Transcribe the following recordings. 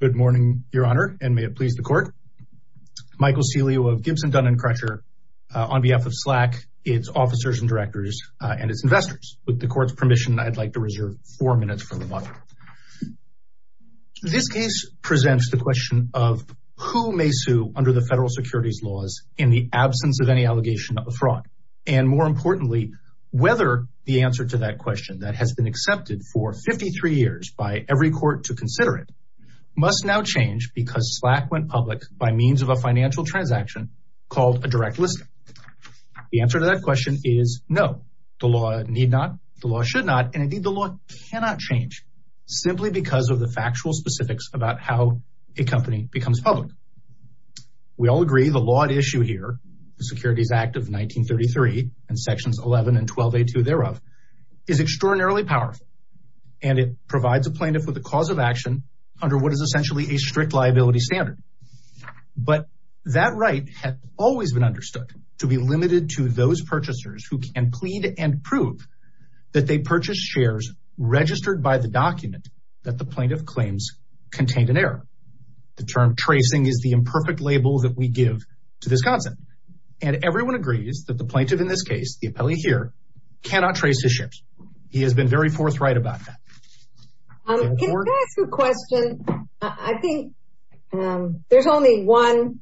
Good morning, Your Honor, and may it please the court. Michael Celio of Gibson, Dunn & Crusher, on behalf of Slack, its officers and directors, and its investors. With the court's permission, I'd like to reserve four minutes for the model. This case presents the question of who may sue under the federal securities laws in the absence of any allegation of fraud? And more importantly, whether the answer to that question that has been accepted for 53 years by every court to consider it, must now change because Slack went public by means of a financial transaction called a direct listing. The answer to that question is no, the law need not, the law should not, and indeed, the law cannot change, simply because of the factual specifics about how a company becomes public. We all agree the law at issue here, the Securities Act of 1933, and and it provides a plaintiff with a cause of action under what is essentially a strict liability standard. But that right has always been understood to be limited to those purchasers who can plead and prove that they purchased shares registered by the document that the plaintiff claims contained an error. The term tracing is the imperfect label that we give to this concept. And everyone agrees that the plaintiff in this case, the appellee here, cannot trace his shares. He has been very forthright about that. I'll ask a question. I think there's only one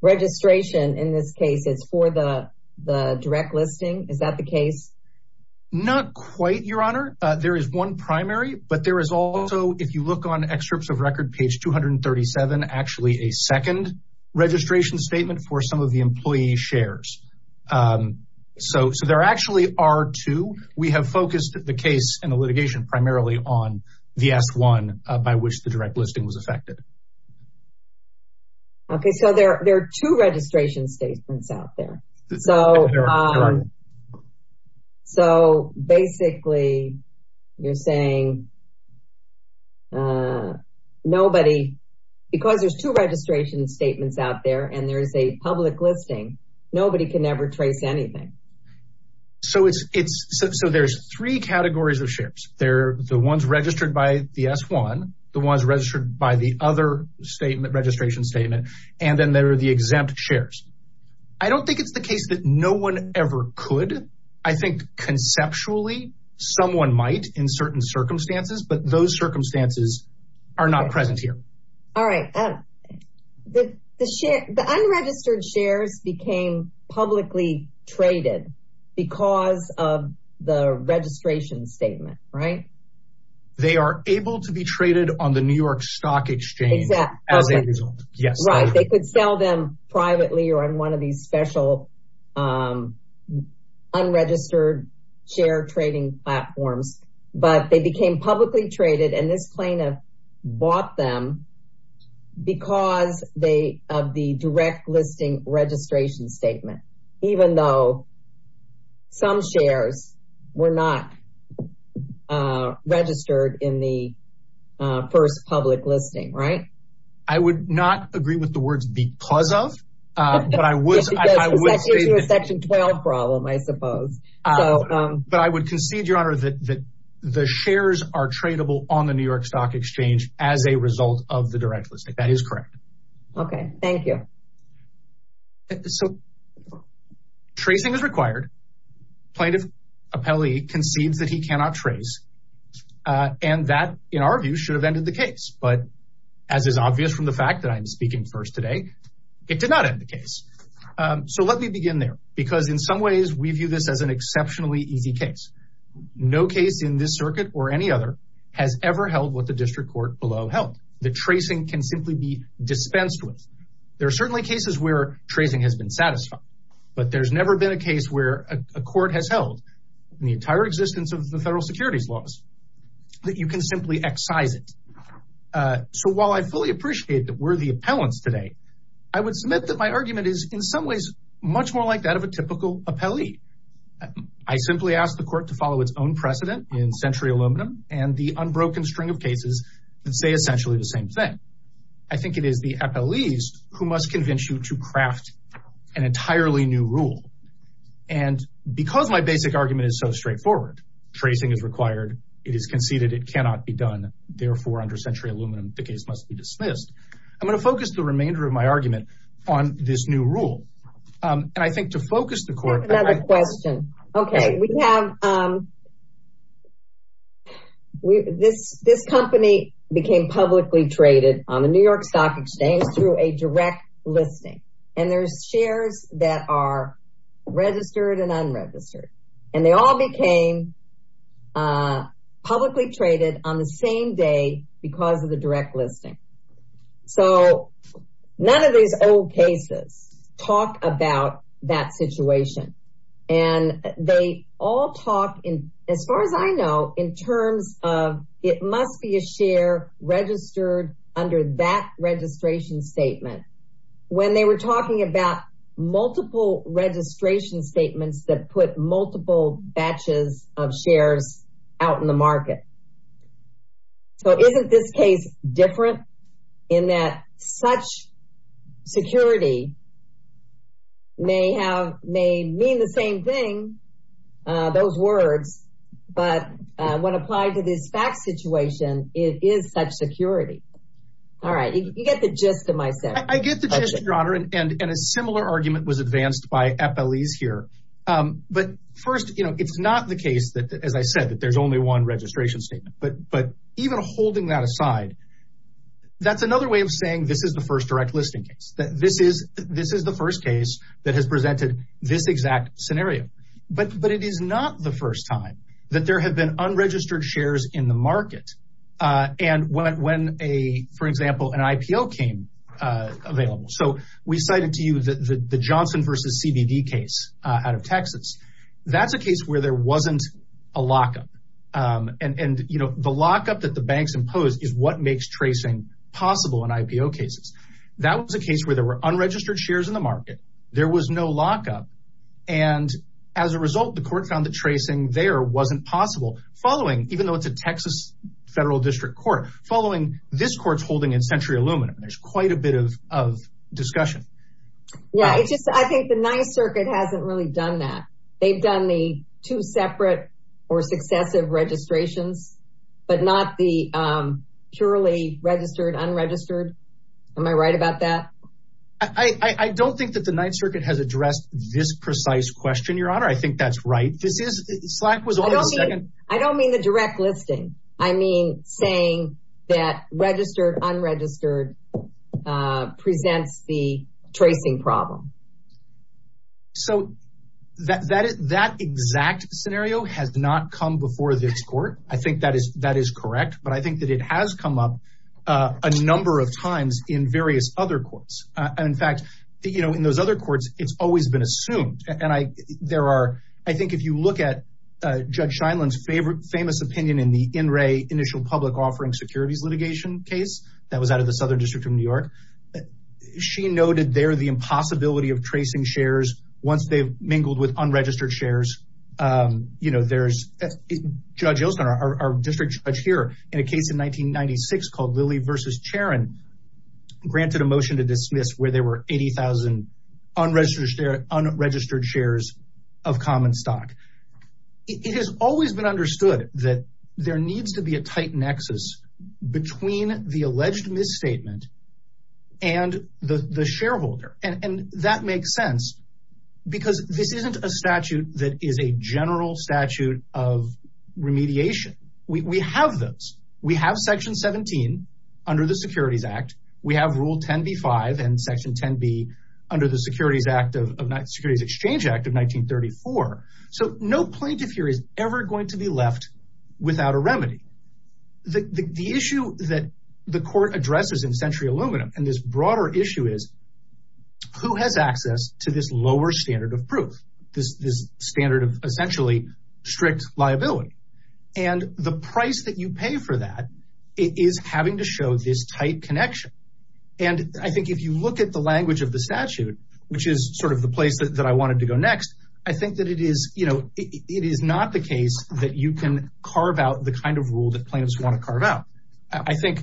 registration in this case, it's for the the direct listing. Is that the case? Not quite, Your Honor, there is one primary, but there is also if you look on excerpts of record page 237, actually a second registration statement for some of the employee shares. So there actually are two, we have focused the case and the litigation primarily on the S1 by which the direct listing was affected. Okay, so there are two registration statements out there. So basically, you're saying nobody, because there's nobody can ever trace anything. So it's so there's three categories of shares. They're the ones registered by the S1, the ones registered by the other statement registration statement, and then there are the exempt shares. I don't think it's the case that no one ever could. I think conceptually, someone might in certain circumstances, but those circumstances are not present here. All right. The unregistered shares became publicly traded because of the registration statement, right? They are able to be traded on the New York Stock Exchange as a result. Yes, right. They could sell them privately or on one of these special unregistered share trading platforms, but they because they have the direct listing registration statement, even though some shares were not registered in the first public listing, right? I would not agree with the words because of, but I was section 12 problem, I suppose. But I would concede, Your Honor, that the shares are tradable on the direct listing. That is correct. Okay. Thank you. So tracing is required. Plaintiff appellee concedes that he cannot trace, and that, in our view, should have ended the case. But as is obvious from the fact that I'm speaking first today, it did not end the case. So let me begin there, because in some ways we view this as an exceptionally easy case. No case in this circuit or any other has ever held what the district court below held. The tracing can simply be dispensed with. There are certainly cases where tracing has been satisfied, but there's never been a case where a court has held in the entire existence of the federal securities laws that you can simply excise it. So while I fully appreciate that we're the appellants today, I would submit that my argument is in some ways much more like that of a typical appellee. I simply asked the court to follow its own precedent in Century Aluminum and the unbroken string of cases that say essentially the same thing. I think it is the appellees who must convince you to craft an entirely new rule. And because my basic argument is so straightforward, tracing is required. It is conceded. It cannot be done. Therefore, under Century Aluminum, the case must be dismissed. I'm going to focus the remainder of my argument on this new rule. And I think to focus the court. Another question. Okay. We have this company became publicly traded on the New York Stock Exchange through a direct listing. And there's shares that are registered and unregistered. And they all became publicly traded on the same day because of the direct listing. So none of these old cases talk about that situation. And they all talk in as far as I know, in terms of it must be a share registered under that registration statement when they were talking about multiple registration statements that put multiple batches of shares out in the market. So isn't this case different in that such security may have been the same thing, those words, but when applied to this back situation, it is such security. All right. You get the gist of my set. I get the gist, Your Honor. And a similar argument was advanced by FLEs here. But first, it's not the case that, as I said, that there's only one registration statement. But even holding that aside, that's another way of saying this is the first direct listing case. This is the first case that has presented this exact scenario. But it is not the first time that there have been unregistered shares in the market. And when, for example, an IPO came available. So we cited to you the Johnson versus CBD case out of Texas. That's a case where there wasn't a lockup. And the lockup that the banks impose is what makes tracing possible in IPO cases. That was a case where there were unregistered shares in the market. There was no lockup. And as a result, the court found that tracing there wasn't possible following, even though it's a Texas federal district court, following this court's holding in Century Aluminum. There's quite a bit of discussion. Yeah. I think the Ninth Circuit hasn't really done that. They've done the two separate or successive registrations, but not the purely registered unregistered. Am I right about that? I don't think that the Ninth Circuit has addressed this precise question, Your Honor. I think that's right. This is Slack was. I don't mean the direct listing. I mean, saying that registered unregistered presents the tracing problem. So that exact scenario has not come before this court. I think that is correct. But I think that it has come up a number of times in various other courts. In fact, in those other courts, it's always been assumed. And I think if you look at Judge Shyland's famous opinion in the in Ray initial public offering securities litigation case that was out of the Southern District of New York, she noted there the impossibility of tracing shares once they've mingled with unregistered shares. You know, there's a judge, our district judge here in a case in 1996 called Lily versus Sharon granted a motion to dismiss where there were 80,000 unregistered shares of common stock. It has always been understood that there needs to be a tight nexus between the alleged misstatement and the shareholder. And that makes sense because this isn't a statute that is a general statute of remediation. We have those. We have Section 17 under the Securities Act. We have Rule 10B5 and Section 10B under the Securities Exchange Act of 1934. So no plaintiff here is ever going to be left without a remedy. The issue that the court addresses in Century Aluminum and this broader issue is who has access to this lower standard of proof, this standard of essentially strict liability and the price that you pay for that is having to show this tight connection. And I think if you look at the language of the statute, which is sort of the place that I wanted to go next, I think that it is, you know, it is not the case that you can carve out the kind of rule that plaintiffs want to carve out. I think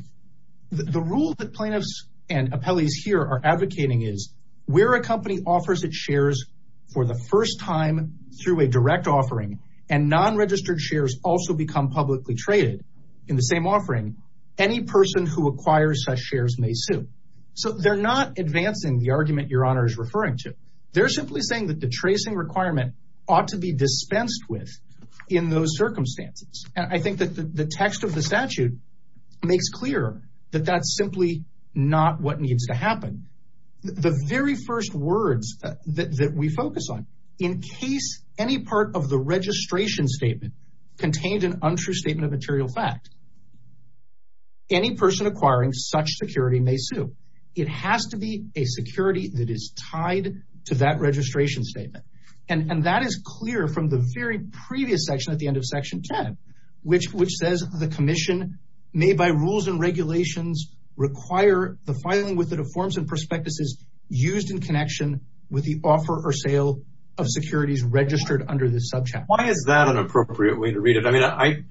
the rule that plaintiffs and appellees here are advocating is where a company offers its shares for the first time through a direct offering and non-registered shares also become publicly traded in the same offering, any person who acquires such shares may sue. So they're not advancing the argument Your Honor is referring to. They're simply saying that the tracing requirement ought to be dispensed with in those circumstances. And I think that the text of the statute makes clear that that's simply not what needs to happen. The very first words that we focus on in case any part of the registration statement contained an untrue statement of material fact, any person acquiring such security may sue. It has to be a security that is tied to that registration statement. And that is clear from the very previous section at the end of section 10, which says the commission may by rules and regulations require the filing with the forms and prospectuses used in connection with the offer or sale of securities registered under this subject. Why is that an appropriate way to read it? I mean,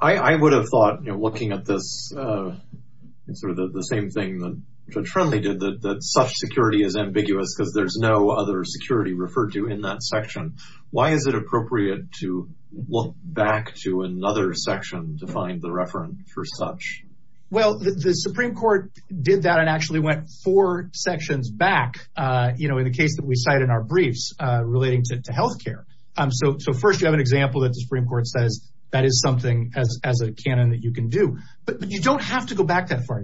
I would have thought looking at this sort of the same thing that Judge Friendly did that such security is ambiguous because there's no other security referred to in that section. Why is it appropriate to look back to another section to find the reference for such? Well, the Supreme Court did that and actually went four sections back in the case that we cite in our briefs relating to health care. So first you have an example that the Supreme Court says that is something as a canon that you can do. But you don't have to go back that far.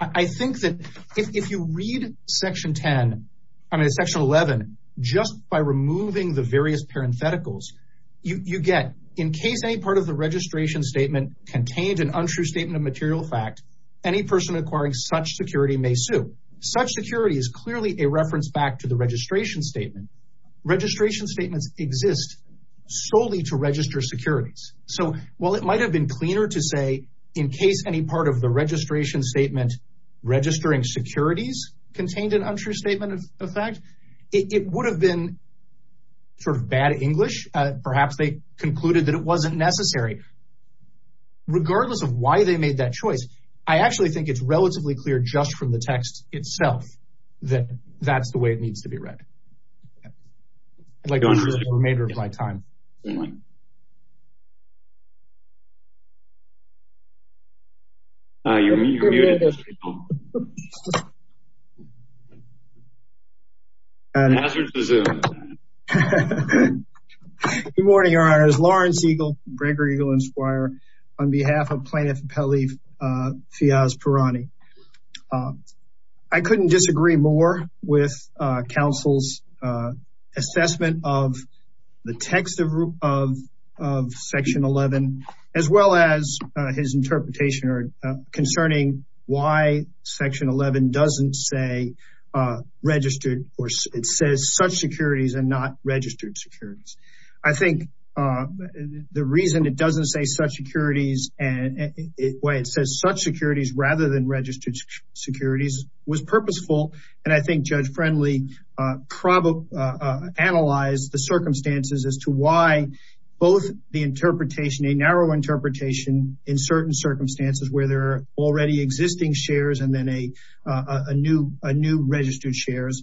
I think that if you read section 10, I mean, section 11, just by removing the various parentheticals you get in case any part of the registration statement contained an untrue statement of material fact, any person acquiring such security may sue such security is clearly a reference back to the registration statement. Registration statements exist solely to register securities. So while it might have been cleaner to say, in case any part of the registration statement registering securities contained an untrue statement of fact, it would have been sort of bad English. Perhaps they concluded that it wasn't necessary. Regardless of why they made that choice. I actually think it's relatively clear just from the text itself that that's the way it needs to be read. Like the remainder of my time. Good morning, your honors. Lawrence Eagle, Breaker Eagle and Squire on behalf of plaintiff Peli Fiaz Pirani. I couldn't disagree more with counsel's assessment of the text of section 11, as well as his interpretation concerning why section 11 doesn't say registered or it says such securities and not registered securities. I think the reason it doesn't say such securities and why it says such securities rather than registered securities was purposeful. And I think Judge Friendly probably analyzed the circumstances as to why both the interpretation, a narrow interpretation in certain circumstances where there are already existing shares and then a new registered shares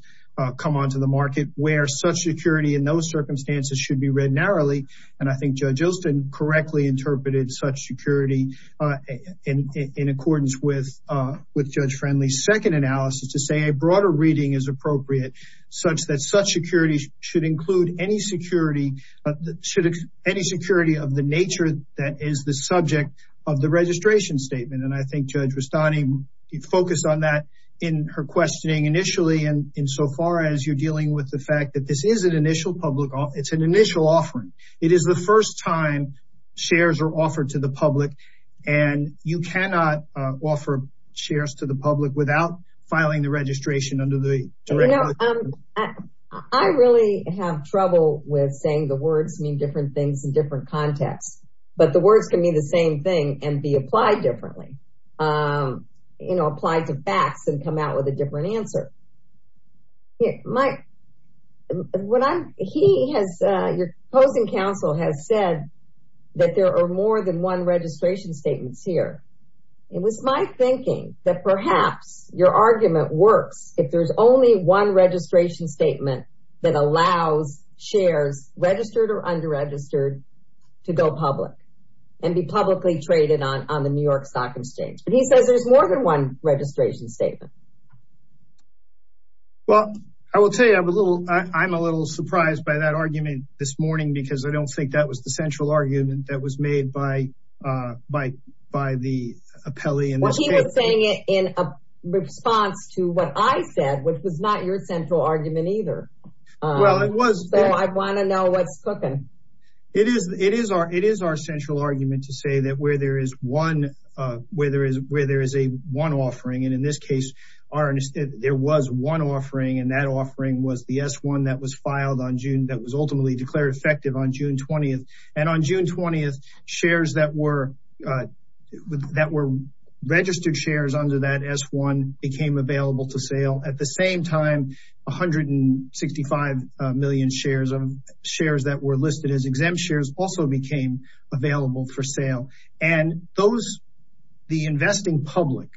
come onto the market where such security in those circumstances should be read narrowly. And I think Judge Ilston correctly interpreted such security in accordance with Judge Friendly's second analysis to say a broader reading is appropriate such that such securities should include any security of the nature that is the subject of the registration statement. And I think Judge Rustani focused on that in her questioning initially. And insofar as you're dealing with the fact that this is an initial public, it's an initial offering. It is the first time shares are offered to the public, and you cannot offer shares to the public without filing the registration under the. I really have trouble with saying the words mean different things in different contexts, but the words can be the same thing and be applied differently, you know, applied to facts and come out with a different answer. Mike, he has, your opposing counsel has said that there are more than one registration statements here. It was my thinking that perhaps your argument works if there's only one registration statement that allows shares registered or under registered to go public and be publicly traded on the New York Stock Exchange. But he says there's more than one registration statement. Well, I will tell you, I'm a little surprised by that argument this morning because I don't think that was the central argument that was made by the appellee. He was saying it in response to what I said, which was not your central argument either. So I want to know what's cooking. It is our central argument to say that where there is one offering, and in this case, there was one offering, and that offering was the S1 that was ultimately declared effective on June 20th. And on June 20th, shares that were registered shares under that S1 became available to sale. At the same time, 165 million shares of shares that were listed as exempt shares also became available for sale. And those, the investing public,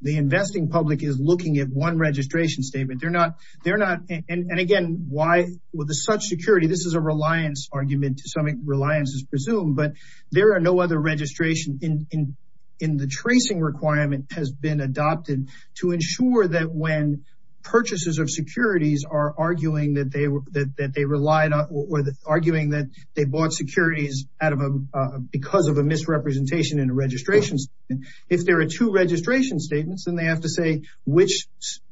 the investing public is looking at one registration statement. They're not, and again, why with such security, this is a reliance argument to some reliance is presumed, but there are no other registration in the tracing requirement has been adopted to ensure that when purchases of securities are arguing that they relied on or arguing that they bought securities out of because of a misrepresentation in a registration. If there are two registration statements, then they have to say which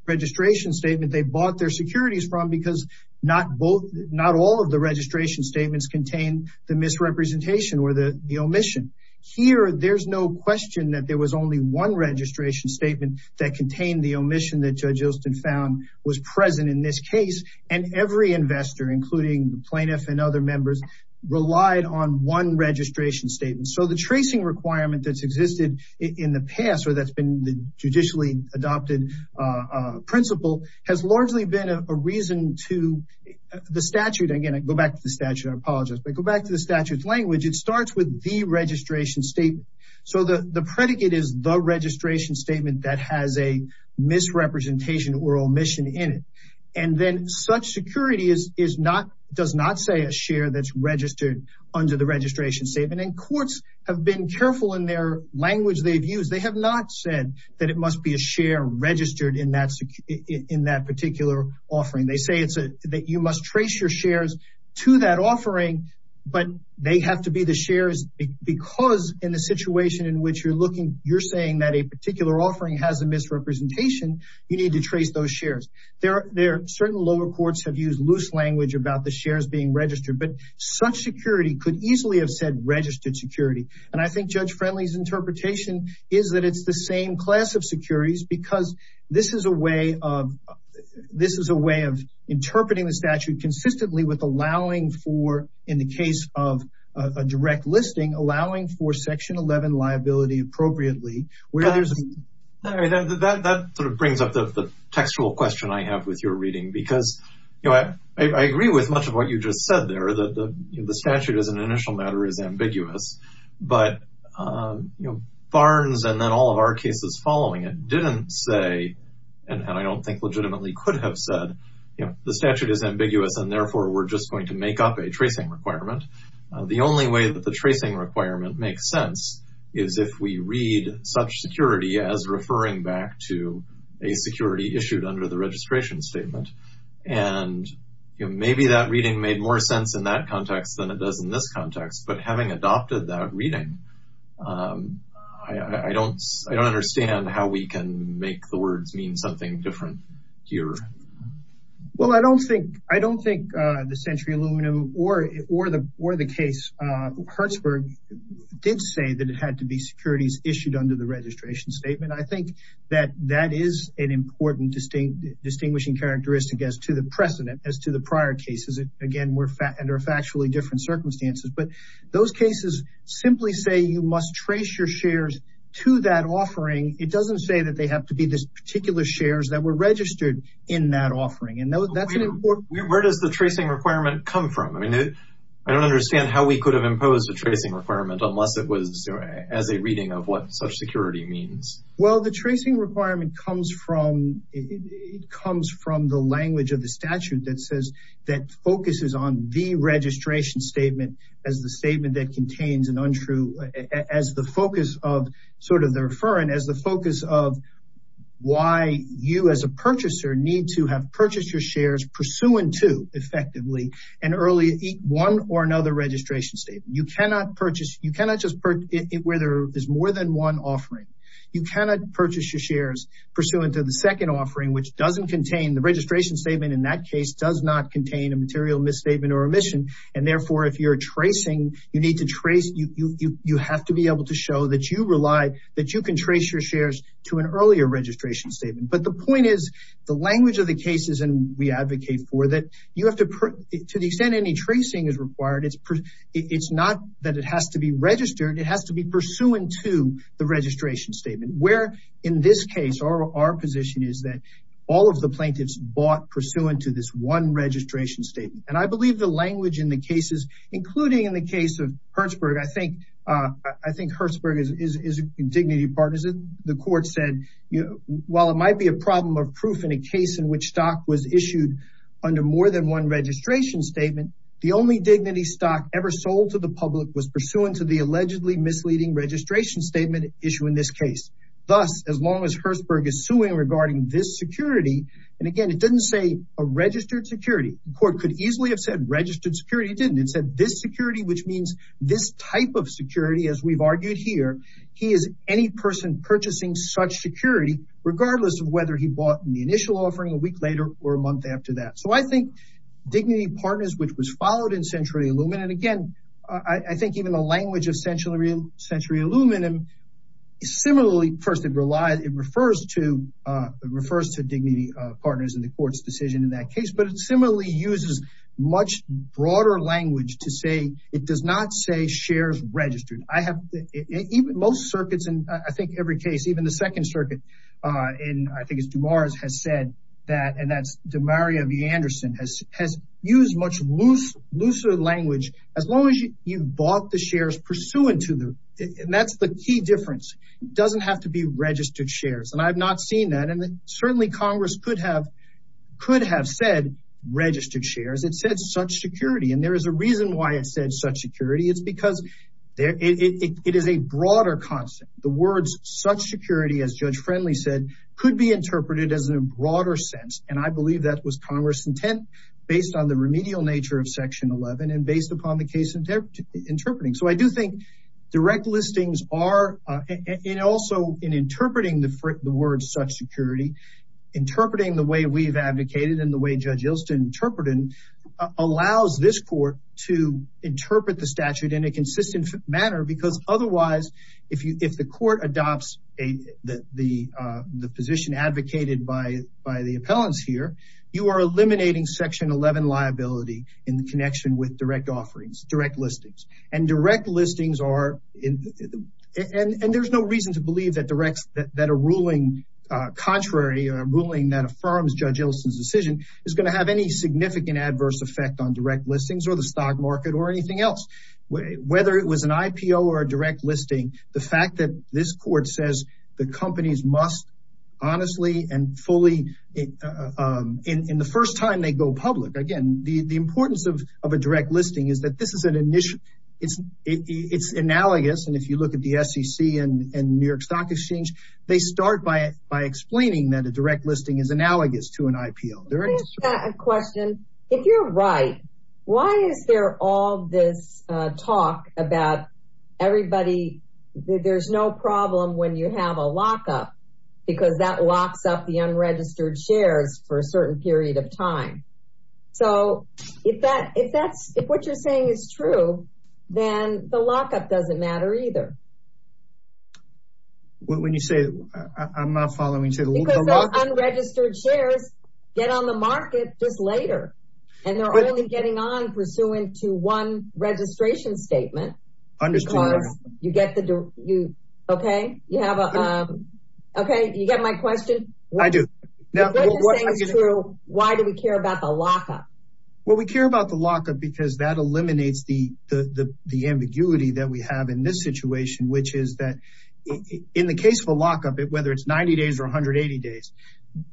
registration statement they bought their securities from, because not all of the registration statements contain the misrepresentation or the omission. Here, there's no question that there was only one registration statement that contained the omission that Judge Osten found was present in this case. And every investor, including the plaintiff and other members, relied on one registration statement. So the tracing requirement that's existed in the past or that's been the judicially adopted principle has largely been a reason to the statute. Again, I go back to the statute. I apologize, but go back to the statute language. It starts with the registration statement. So the predicate is the registration statement that has a misrepresentation or omission in it. And then such security does not say a share that's registered under the registration statement. And courts have been careful in their language they've used. They have not said that it must be a share registered in that particular offering. They say that you must trace your shares to that offering, but they have to be the shares because in the situation in which you're looking, you're saying that a particular offering has a misrepresentation, you need to trace those shares. There are certain lower courts have used loose language about the shares being registered, but such security could easily have said registered security. And I think Judge Friendly's interpretation is that it's the same class of securities because this is a way of interpreting the statute consistently with allowing for, in the case of a direct listing, allowing for Section 11 liability appropriately. That sort of brings up the textual question I have with your reading because I agree with much of what you just said there, that the statute as an initial matter is ambiguous, but Barnes and then all of our cases following it didn't say, and I don't think legitimately could have said, the statute is ambiguous and therefore we're just going to make up a tracing requirement. The only way that the tracing requirement makes sense is if we read such security as referring back to a security issued under the registration statement. And maybe that reading made more sense in that context than it does in this context, but having adopted that reading, I don't understand how we can make the words mean something different here. Well, I don't think the Century Aluminum or the case of Hertzberg did say that it had to be securities issued under the registration statement. I think that that is an important distinguishing characteristic as to the precedent, as to the prior cases. Again, we're under factually different circumstances, but those cases simply say you must trace your shares to that offering. It doesn't say that they have to be this particular shares that were registered in that offering. And that's an important... Where does the tracing requirement come from? I mean, I don't understand how we could have imposed a tracing requirement unless it was as a reading of what such security means. Well, the tracing requirement comes from the language of the statute that says that focuses on the registration statement as the statement that contains an untrue as the focus of sort of the referring as the focus of why you as a purchaser need to have purchased your shares pursuant to effectively an early one or another registration statement. You cannot purchase. You cannot just put it where there is more than one offering. You cannot purchase your shares pursuant to the second offering, which doesn't contain the registration statement. In that case does not contain a material misstatement or omission. And therefore, if you're tracing, you need to trace. You have to be able to show that you rely, that you can trace your shares to an earlier registration statement. But the point is the language of the cases. And we advocate for that. You have to put to the extent any tracing is required. It's not that it has to be registered. It has to be pursuant to the registration statement. Where in this case, our position is that all of the plaintiffs bought pursuant to this one registration statement. And I believe the language in the cases, including in the case of Hertzberg, I think Hertzberg is a dignity partisan. The court said, while it might be a problem of proof in a case in which stock was issued under more than one registration statement, the only dignity stock ever sold to the public was pursuant to the allegedly misleading registration statement issue in this case. Thus, as long as Hertzberg is suing regarding this security, and again, it doesn't say a registered security. The court could easily have said registered security. It didn't. It said this security, which means this type of security, as we've argued here. He is any person purchasing such security, regardless of whether he bought in the initial offering a week later or a month after that. So I think dignity partners, which was followed in Century Aluminum, and again, I think even the language of Century Aluminum, similarly, first, it refers to dignity partners in the court's decision in that case. But it similarly uses much broader language to say, it does not say shares registered. I have, most circuits, and I think every case, even the Second Circuit, and I think it's DeMars has said that, and that's DeMaria V. As long as you bought the shares pursuant to the, and that's the key difference. It doesn't have to be registered shares, and I've not seen that. And certainly, Congress could have said registered shares. It said such security, and there is a reason why it said such security. It's because it is a broader concept. The words such security, as Judge Friendly said, could be interpreted as a broader sense. And I believe that was Congress intent based on the remedial nature of Section 11 and based upon the case interpreting. So I do think direct listings are, and also in interpreting the word such security, interpreting the way we've advocated and the way Judge Ilston interpreted, allows this court to interpret the statute in a consistent manner. Because otherwise, if the court adopts the position advocated by the appellants here, you are eliminating Section 11 liability in the connection with direct offerings, direct listings. And direct listings are, and there's no reason to believe that directs that a ruling contrary or a ruling that affirms Judge Ilston's decision is going to have any significant adverse effect on direct listings or the stock market or anything else. Whether it was an IPO or a direct listing, the fact that this court says the companies must, honestly and fully, in the first time they go public. Again, the importance of a direct listing is that this is an initial, it's analogous. And if you look at the SEC and New York Stock Exchange, they start by explaining that a direct listing is analogous to an IPO. Can I ask a question? If you're right, why is there all this talk about everybody, there's no problem when you have a lockup because that locks up the unregistered shares for a certain period of time. So if that, if that's, if what you're saying is true, then the lockup doesn't matter either. When you say, I'm not following you. Because those unregistered shares get on the market just later. And they're only getting on pursuant to one registration statement. Because you get the, you, okay, you have a, okay, you get my question? I do. If what you're saying is true, why do we care about the lockup? Well, we care about the lockup because that eliminates the ambiguity that we have in this situation, which is that in the case of a lockup, whether it's 90 days or 180 days,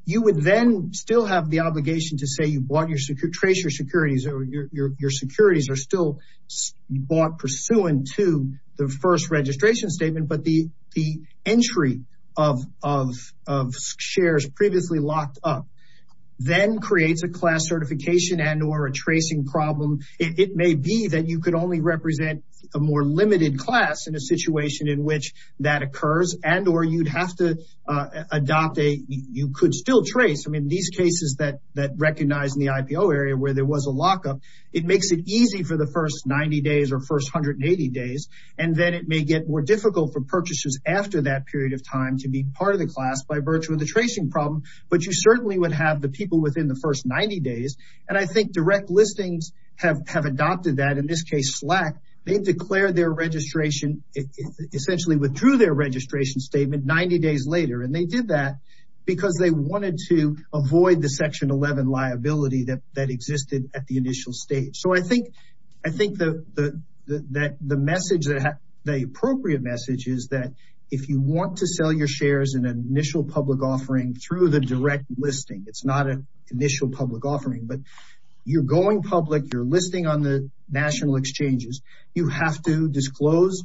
you would then still have the obligation to say you bought your, trace your securities or your securities are still bought pursuant to the first registration statement. But the, the entry of, of, of shares previously locked up, then creates a class certification and or a tracing problem. It may be that you could only represent a more limited class in a situation in which that occurs and or you'd have to adopt a, you could still trace. These cases that, that recognize in the IPO area where there was a lockup, it makes it easy for the first 90 days or first 180 days. And then it may get more difficult for purchases after that period of time to be part of the class by virtue of the tracing problem. But you certainly would have the people within the first 90 days. And I think direct listings have, have adopted that. In this case, Slack, they've declared their registration, essentially withdrew their registration statement 90 days later. And they did that because they wanted to avoid the section 11 liability that, that existed at the initial stage. So I think, I think the, the, the, that the message that the appropriate message is that if you want to sell your shares in an initial public offering through the direct listing, it's not an initial public offering, but you're going public, you're listing on the national exchanges. You have to disclose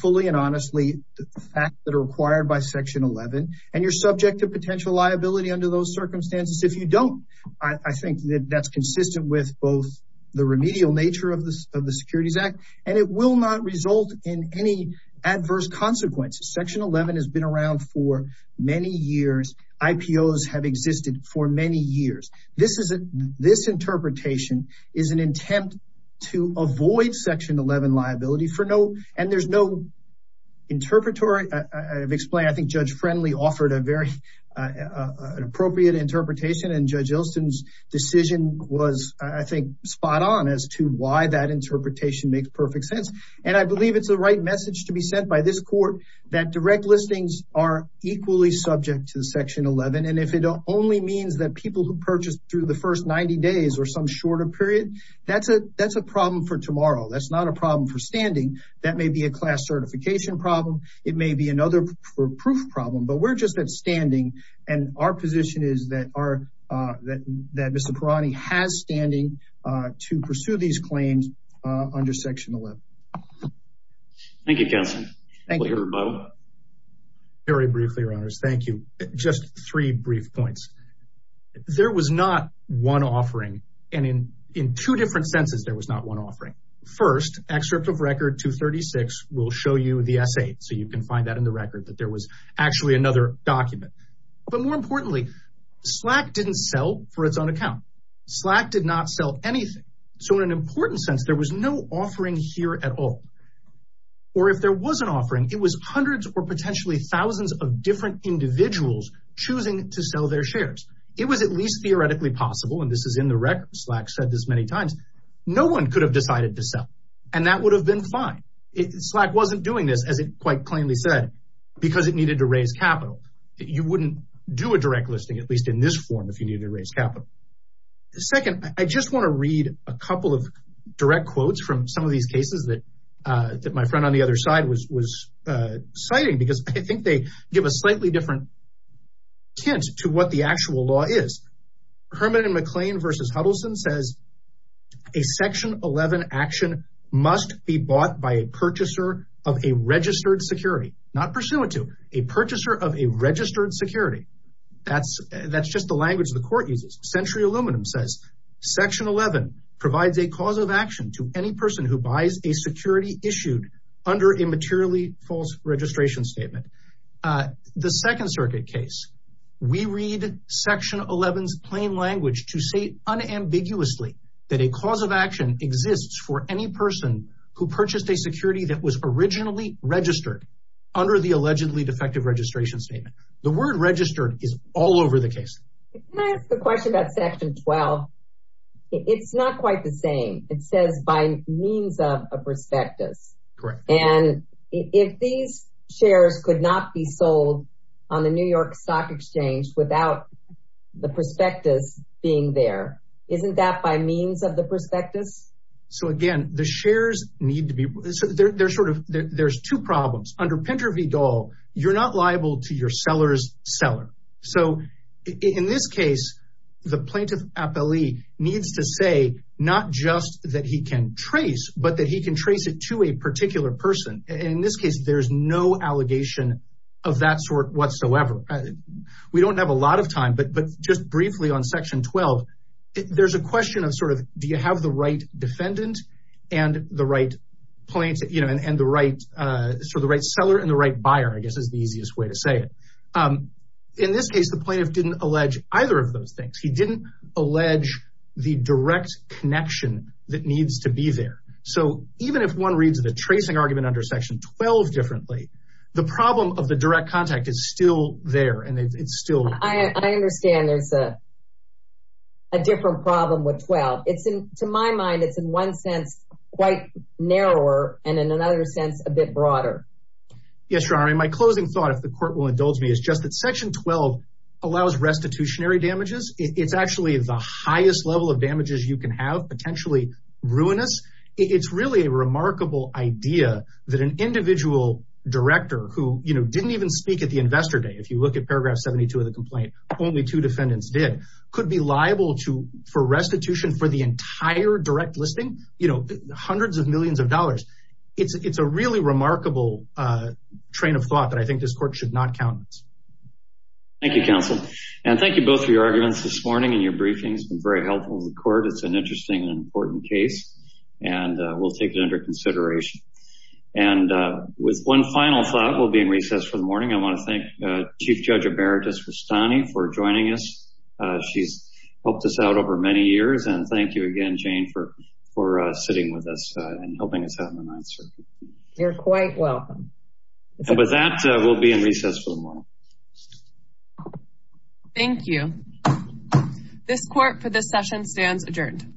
fully and honestly the facts that are required by section 11, and you're subject to potential liability under those circumstances. If you don't, I think that that's consistent with both the remedial nature of the, of the securities act, and it will not result in any adverse consequences. Section 11 has been around for many years. IPOs have existed for many years. This is a, this interpretation is an attempt to avoid section 11 liability for no, and there's no interpretory, I've explained. I think judge Friendly offered a very, uh, uh, an appropriate interpretation and judge Elston's decision was, I think, spot on as to why that interpretation makes perfect sense. And I believe it's the right message to be sent by this court that direct listings are through the first 90 days or some shorter period. That's a, that's a problem for tomorrow. That's not a problem for standing. That may be a class certification problem. It may be another proof problem, but we're just at standing. And our position is that our, uh, that, that Mr. Parani has standing, uh, to pursue these claims, uh, under section 11. Thank you, counsel. Very briefly, your honors. Thank you. Just three brief points. There was not one offering. And in, in two different senses, there was not one offering first excerpt of record to 36, we'll show you the essay. So you can find that in the record that there was actually another document, but more importantly, Slack didn't sell for its own account. Slack did not sell anything. So in an important sense, there was no offering here at all. Or if there was an offering, it was hundreds or potentially thousands of different individuals choosing to sell their shares. It was at least theoretically possible. And this is in the record. Slack said this many times, no one could have decided to sell. And that would have been fine. It Slack wasn't doing this as it quite plainly said, because it needed to raise capital. You wouldn't do a direct listing, at least in this form, if you needed to raise capital. Second, I just want to read a couple of direct quotes from some of these cases that, uh, that my friend on the other side was, was, uh, citing, because I think they give a slightly different hint to what the actual law is. Herman and McLean versus Huddleston says a section 11 action must be bought by a purchaser of a registered security, not pursuant to a purchaser of a registered security. That's, that's just the language of the court uses. Century Aluminum says section 11 provides a cause of action to any person who buys a security issued under a materially false registration statement. Uh, the second circuit case, we read section 11 is plain language to say unambiguously that a cause of action exists for any person who purchased a security that was originally registered under the allegedly defective registration statement. The word registered is all over the case. Can I ask a question about section 12? It's not quite the same. It says by means of a prospectus. And if these shares could not be sold on the New York stock exchange without the prospectus being there, isn't that by means of the prospectus? So again, the shares need to be, they're sort of, there's two problems under Pinter v. Dahl. You're not liable to your seller's seller. So in this case, the plaintiff appellee needs to say not just that he can trace, but that he can trace it to a particular person. In this case, there's no allegation of that sort whatsoever. We don't have a lot of time, but, but just briefly on section 12, there's a question of sort of, do you have the right defendant and the right points, you know, and, and the right, uh, sort of the right seller and the right buyer, I guess is the easiest way to say it. Um, in this case, the plaintiff didn't allege either of those things. He didn't allege the direct connection that needs to be there. So even if one reads the tracing argument under section 12 differently, the problem of the direct contact is still there. And it's still, I understand there's a, a different problem with 12. It's in, to my mind, it's in one sense, quite narrower and in another sense, a bit broader. Yes, your honor. And my closing thought, if the court will indulge me is just that section 12 allows restitutionary damages. It's actually the highest level of damages you can have potentially ruinous. It's really a remarkable idea that an individual director who, you know, didn't even speak at the investor day. If you look at paragraph 72 of the complaint, only two defendants did, could be liable to for restitution for the entire direct listing, you know, hundreds of millions of dollars. It's, it's a really remarkable, uh, train of thought that I think this court should not count. Thank you counsel. And thank you both for your arguments this morning and your briefings have been very helpful to the court. It's an interesting and important case and we'll take it under consideration. And, uh, with one final thought we'll be in recess for the morning. I want to thank, uh, chief judge emeritus Rustani for joining us. Uh, she's helped us out over many years and thank you again, Jane, for, for, uh, sitting with us and helping us have an answer. You're quite welcome. And with that, we'll be in recess for the morning. Thank you. This court for this session stands adjourned.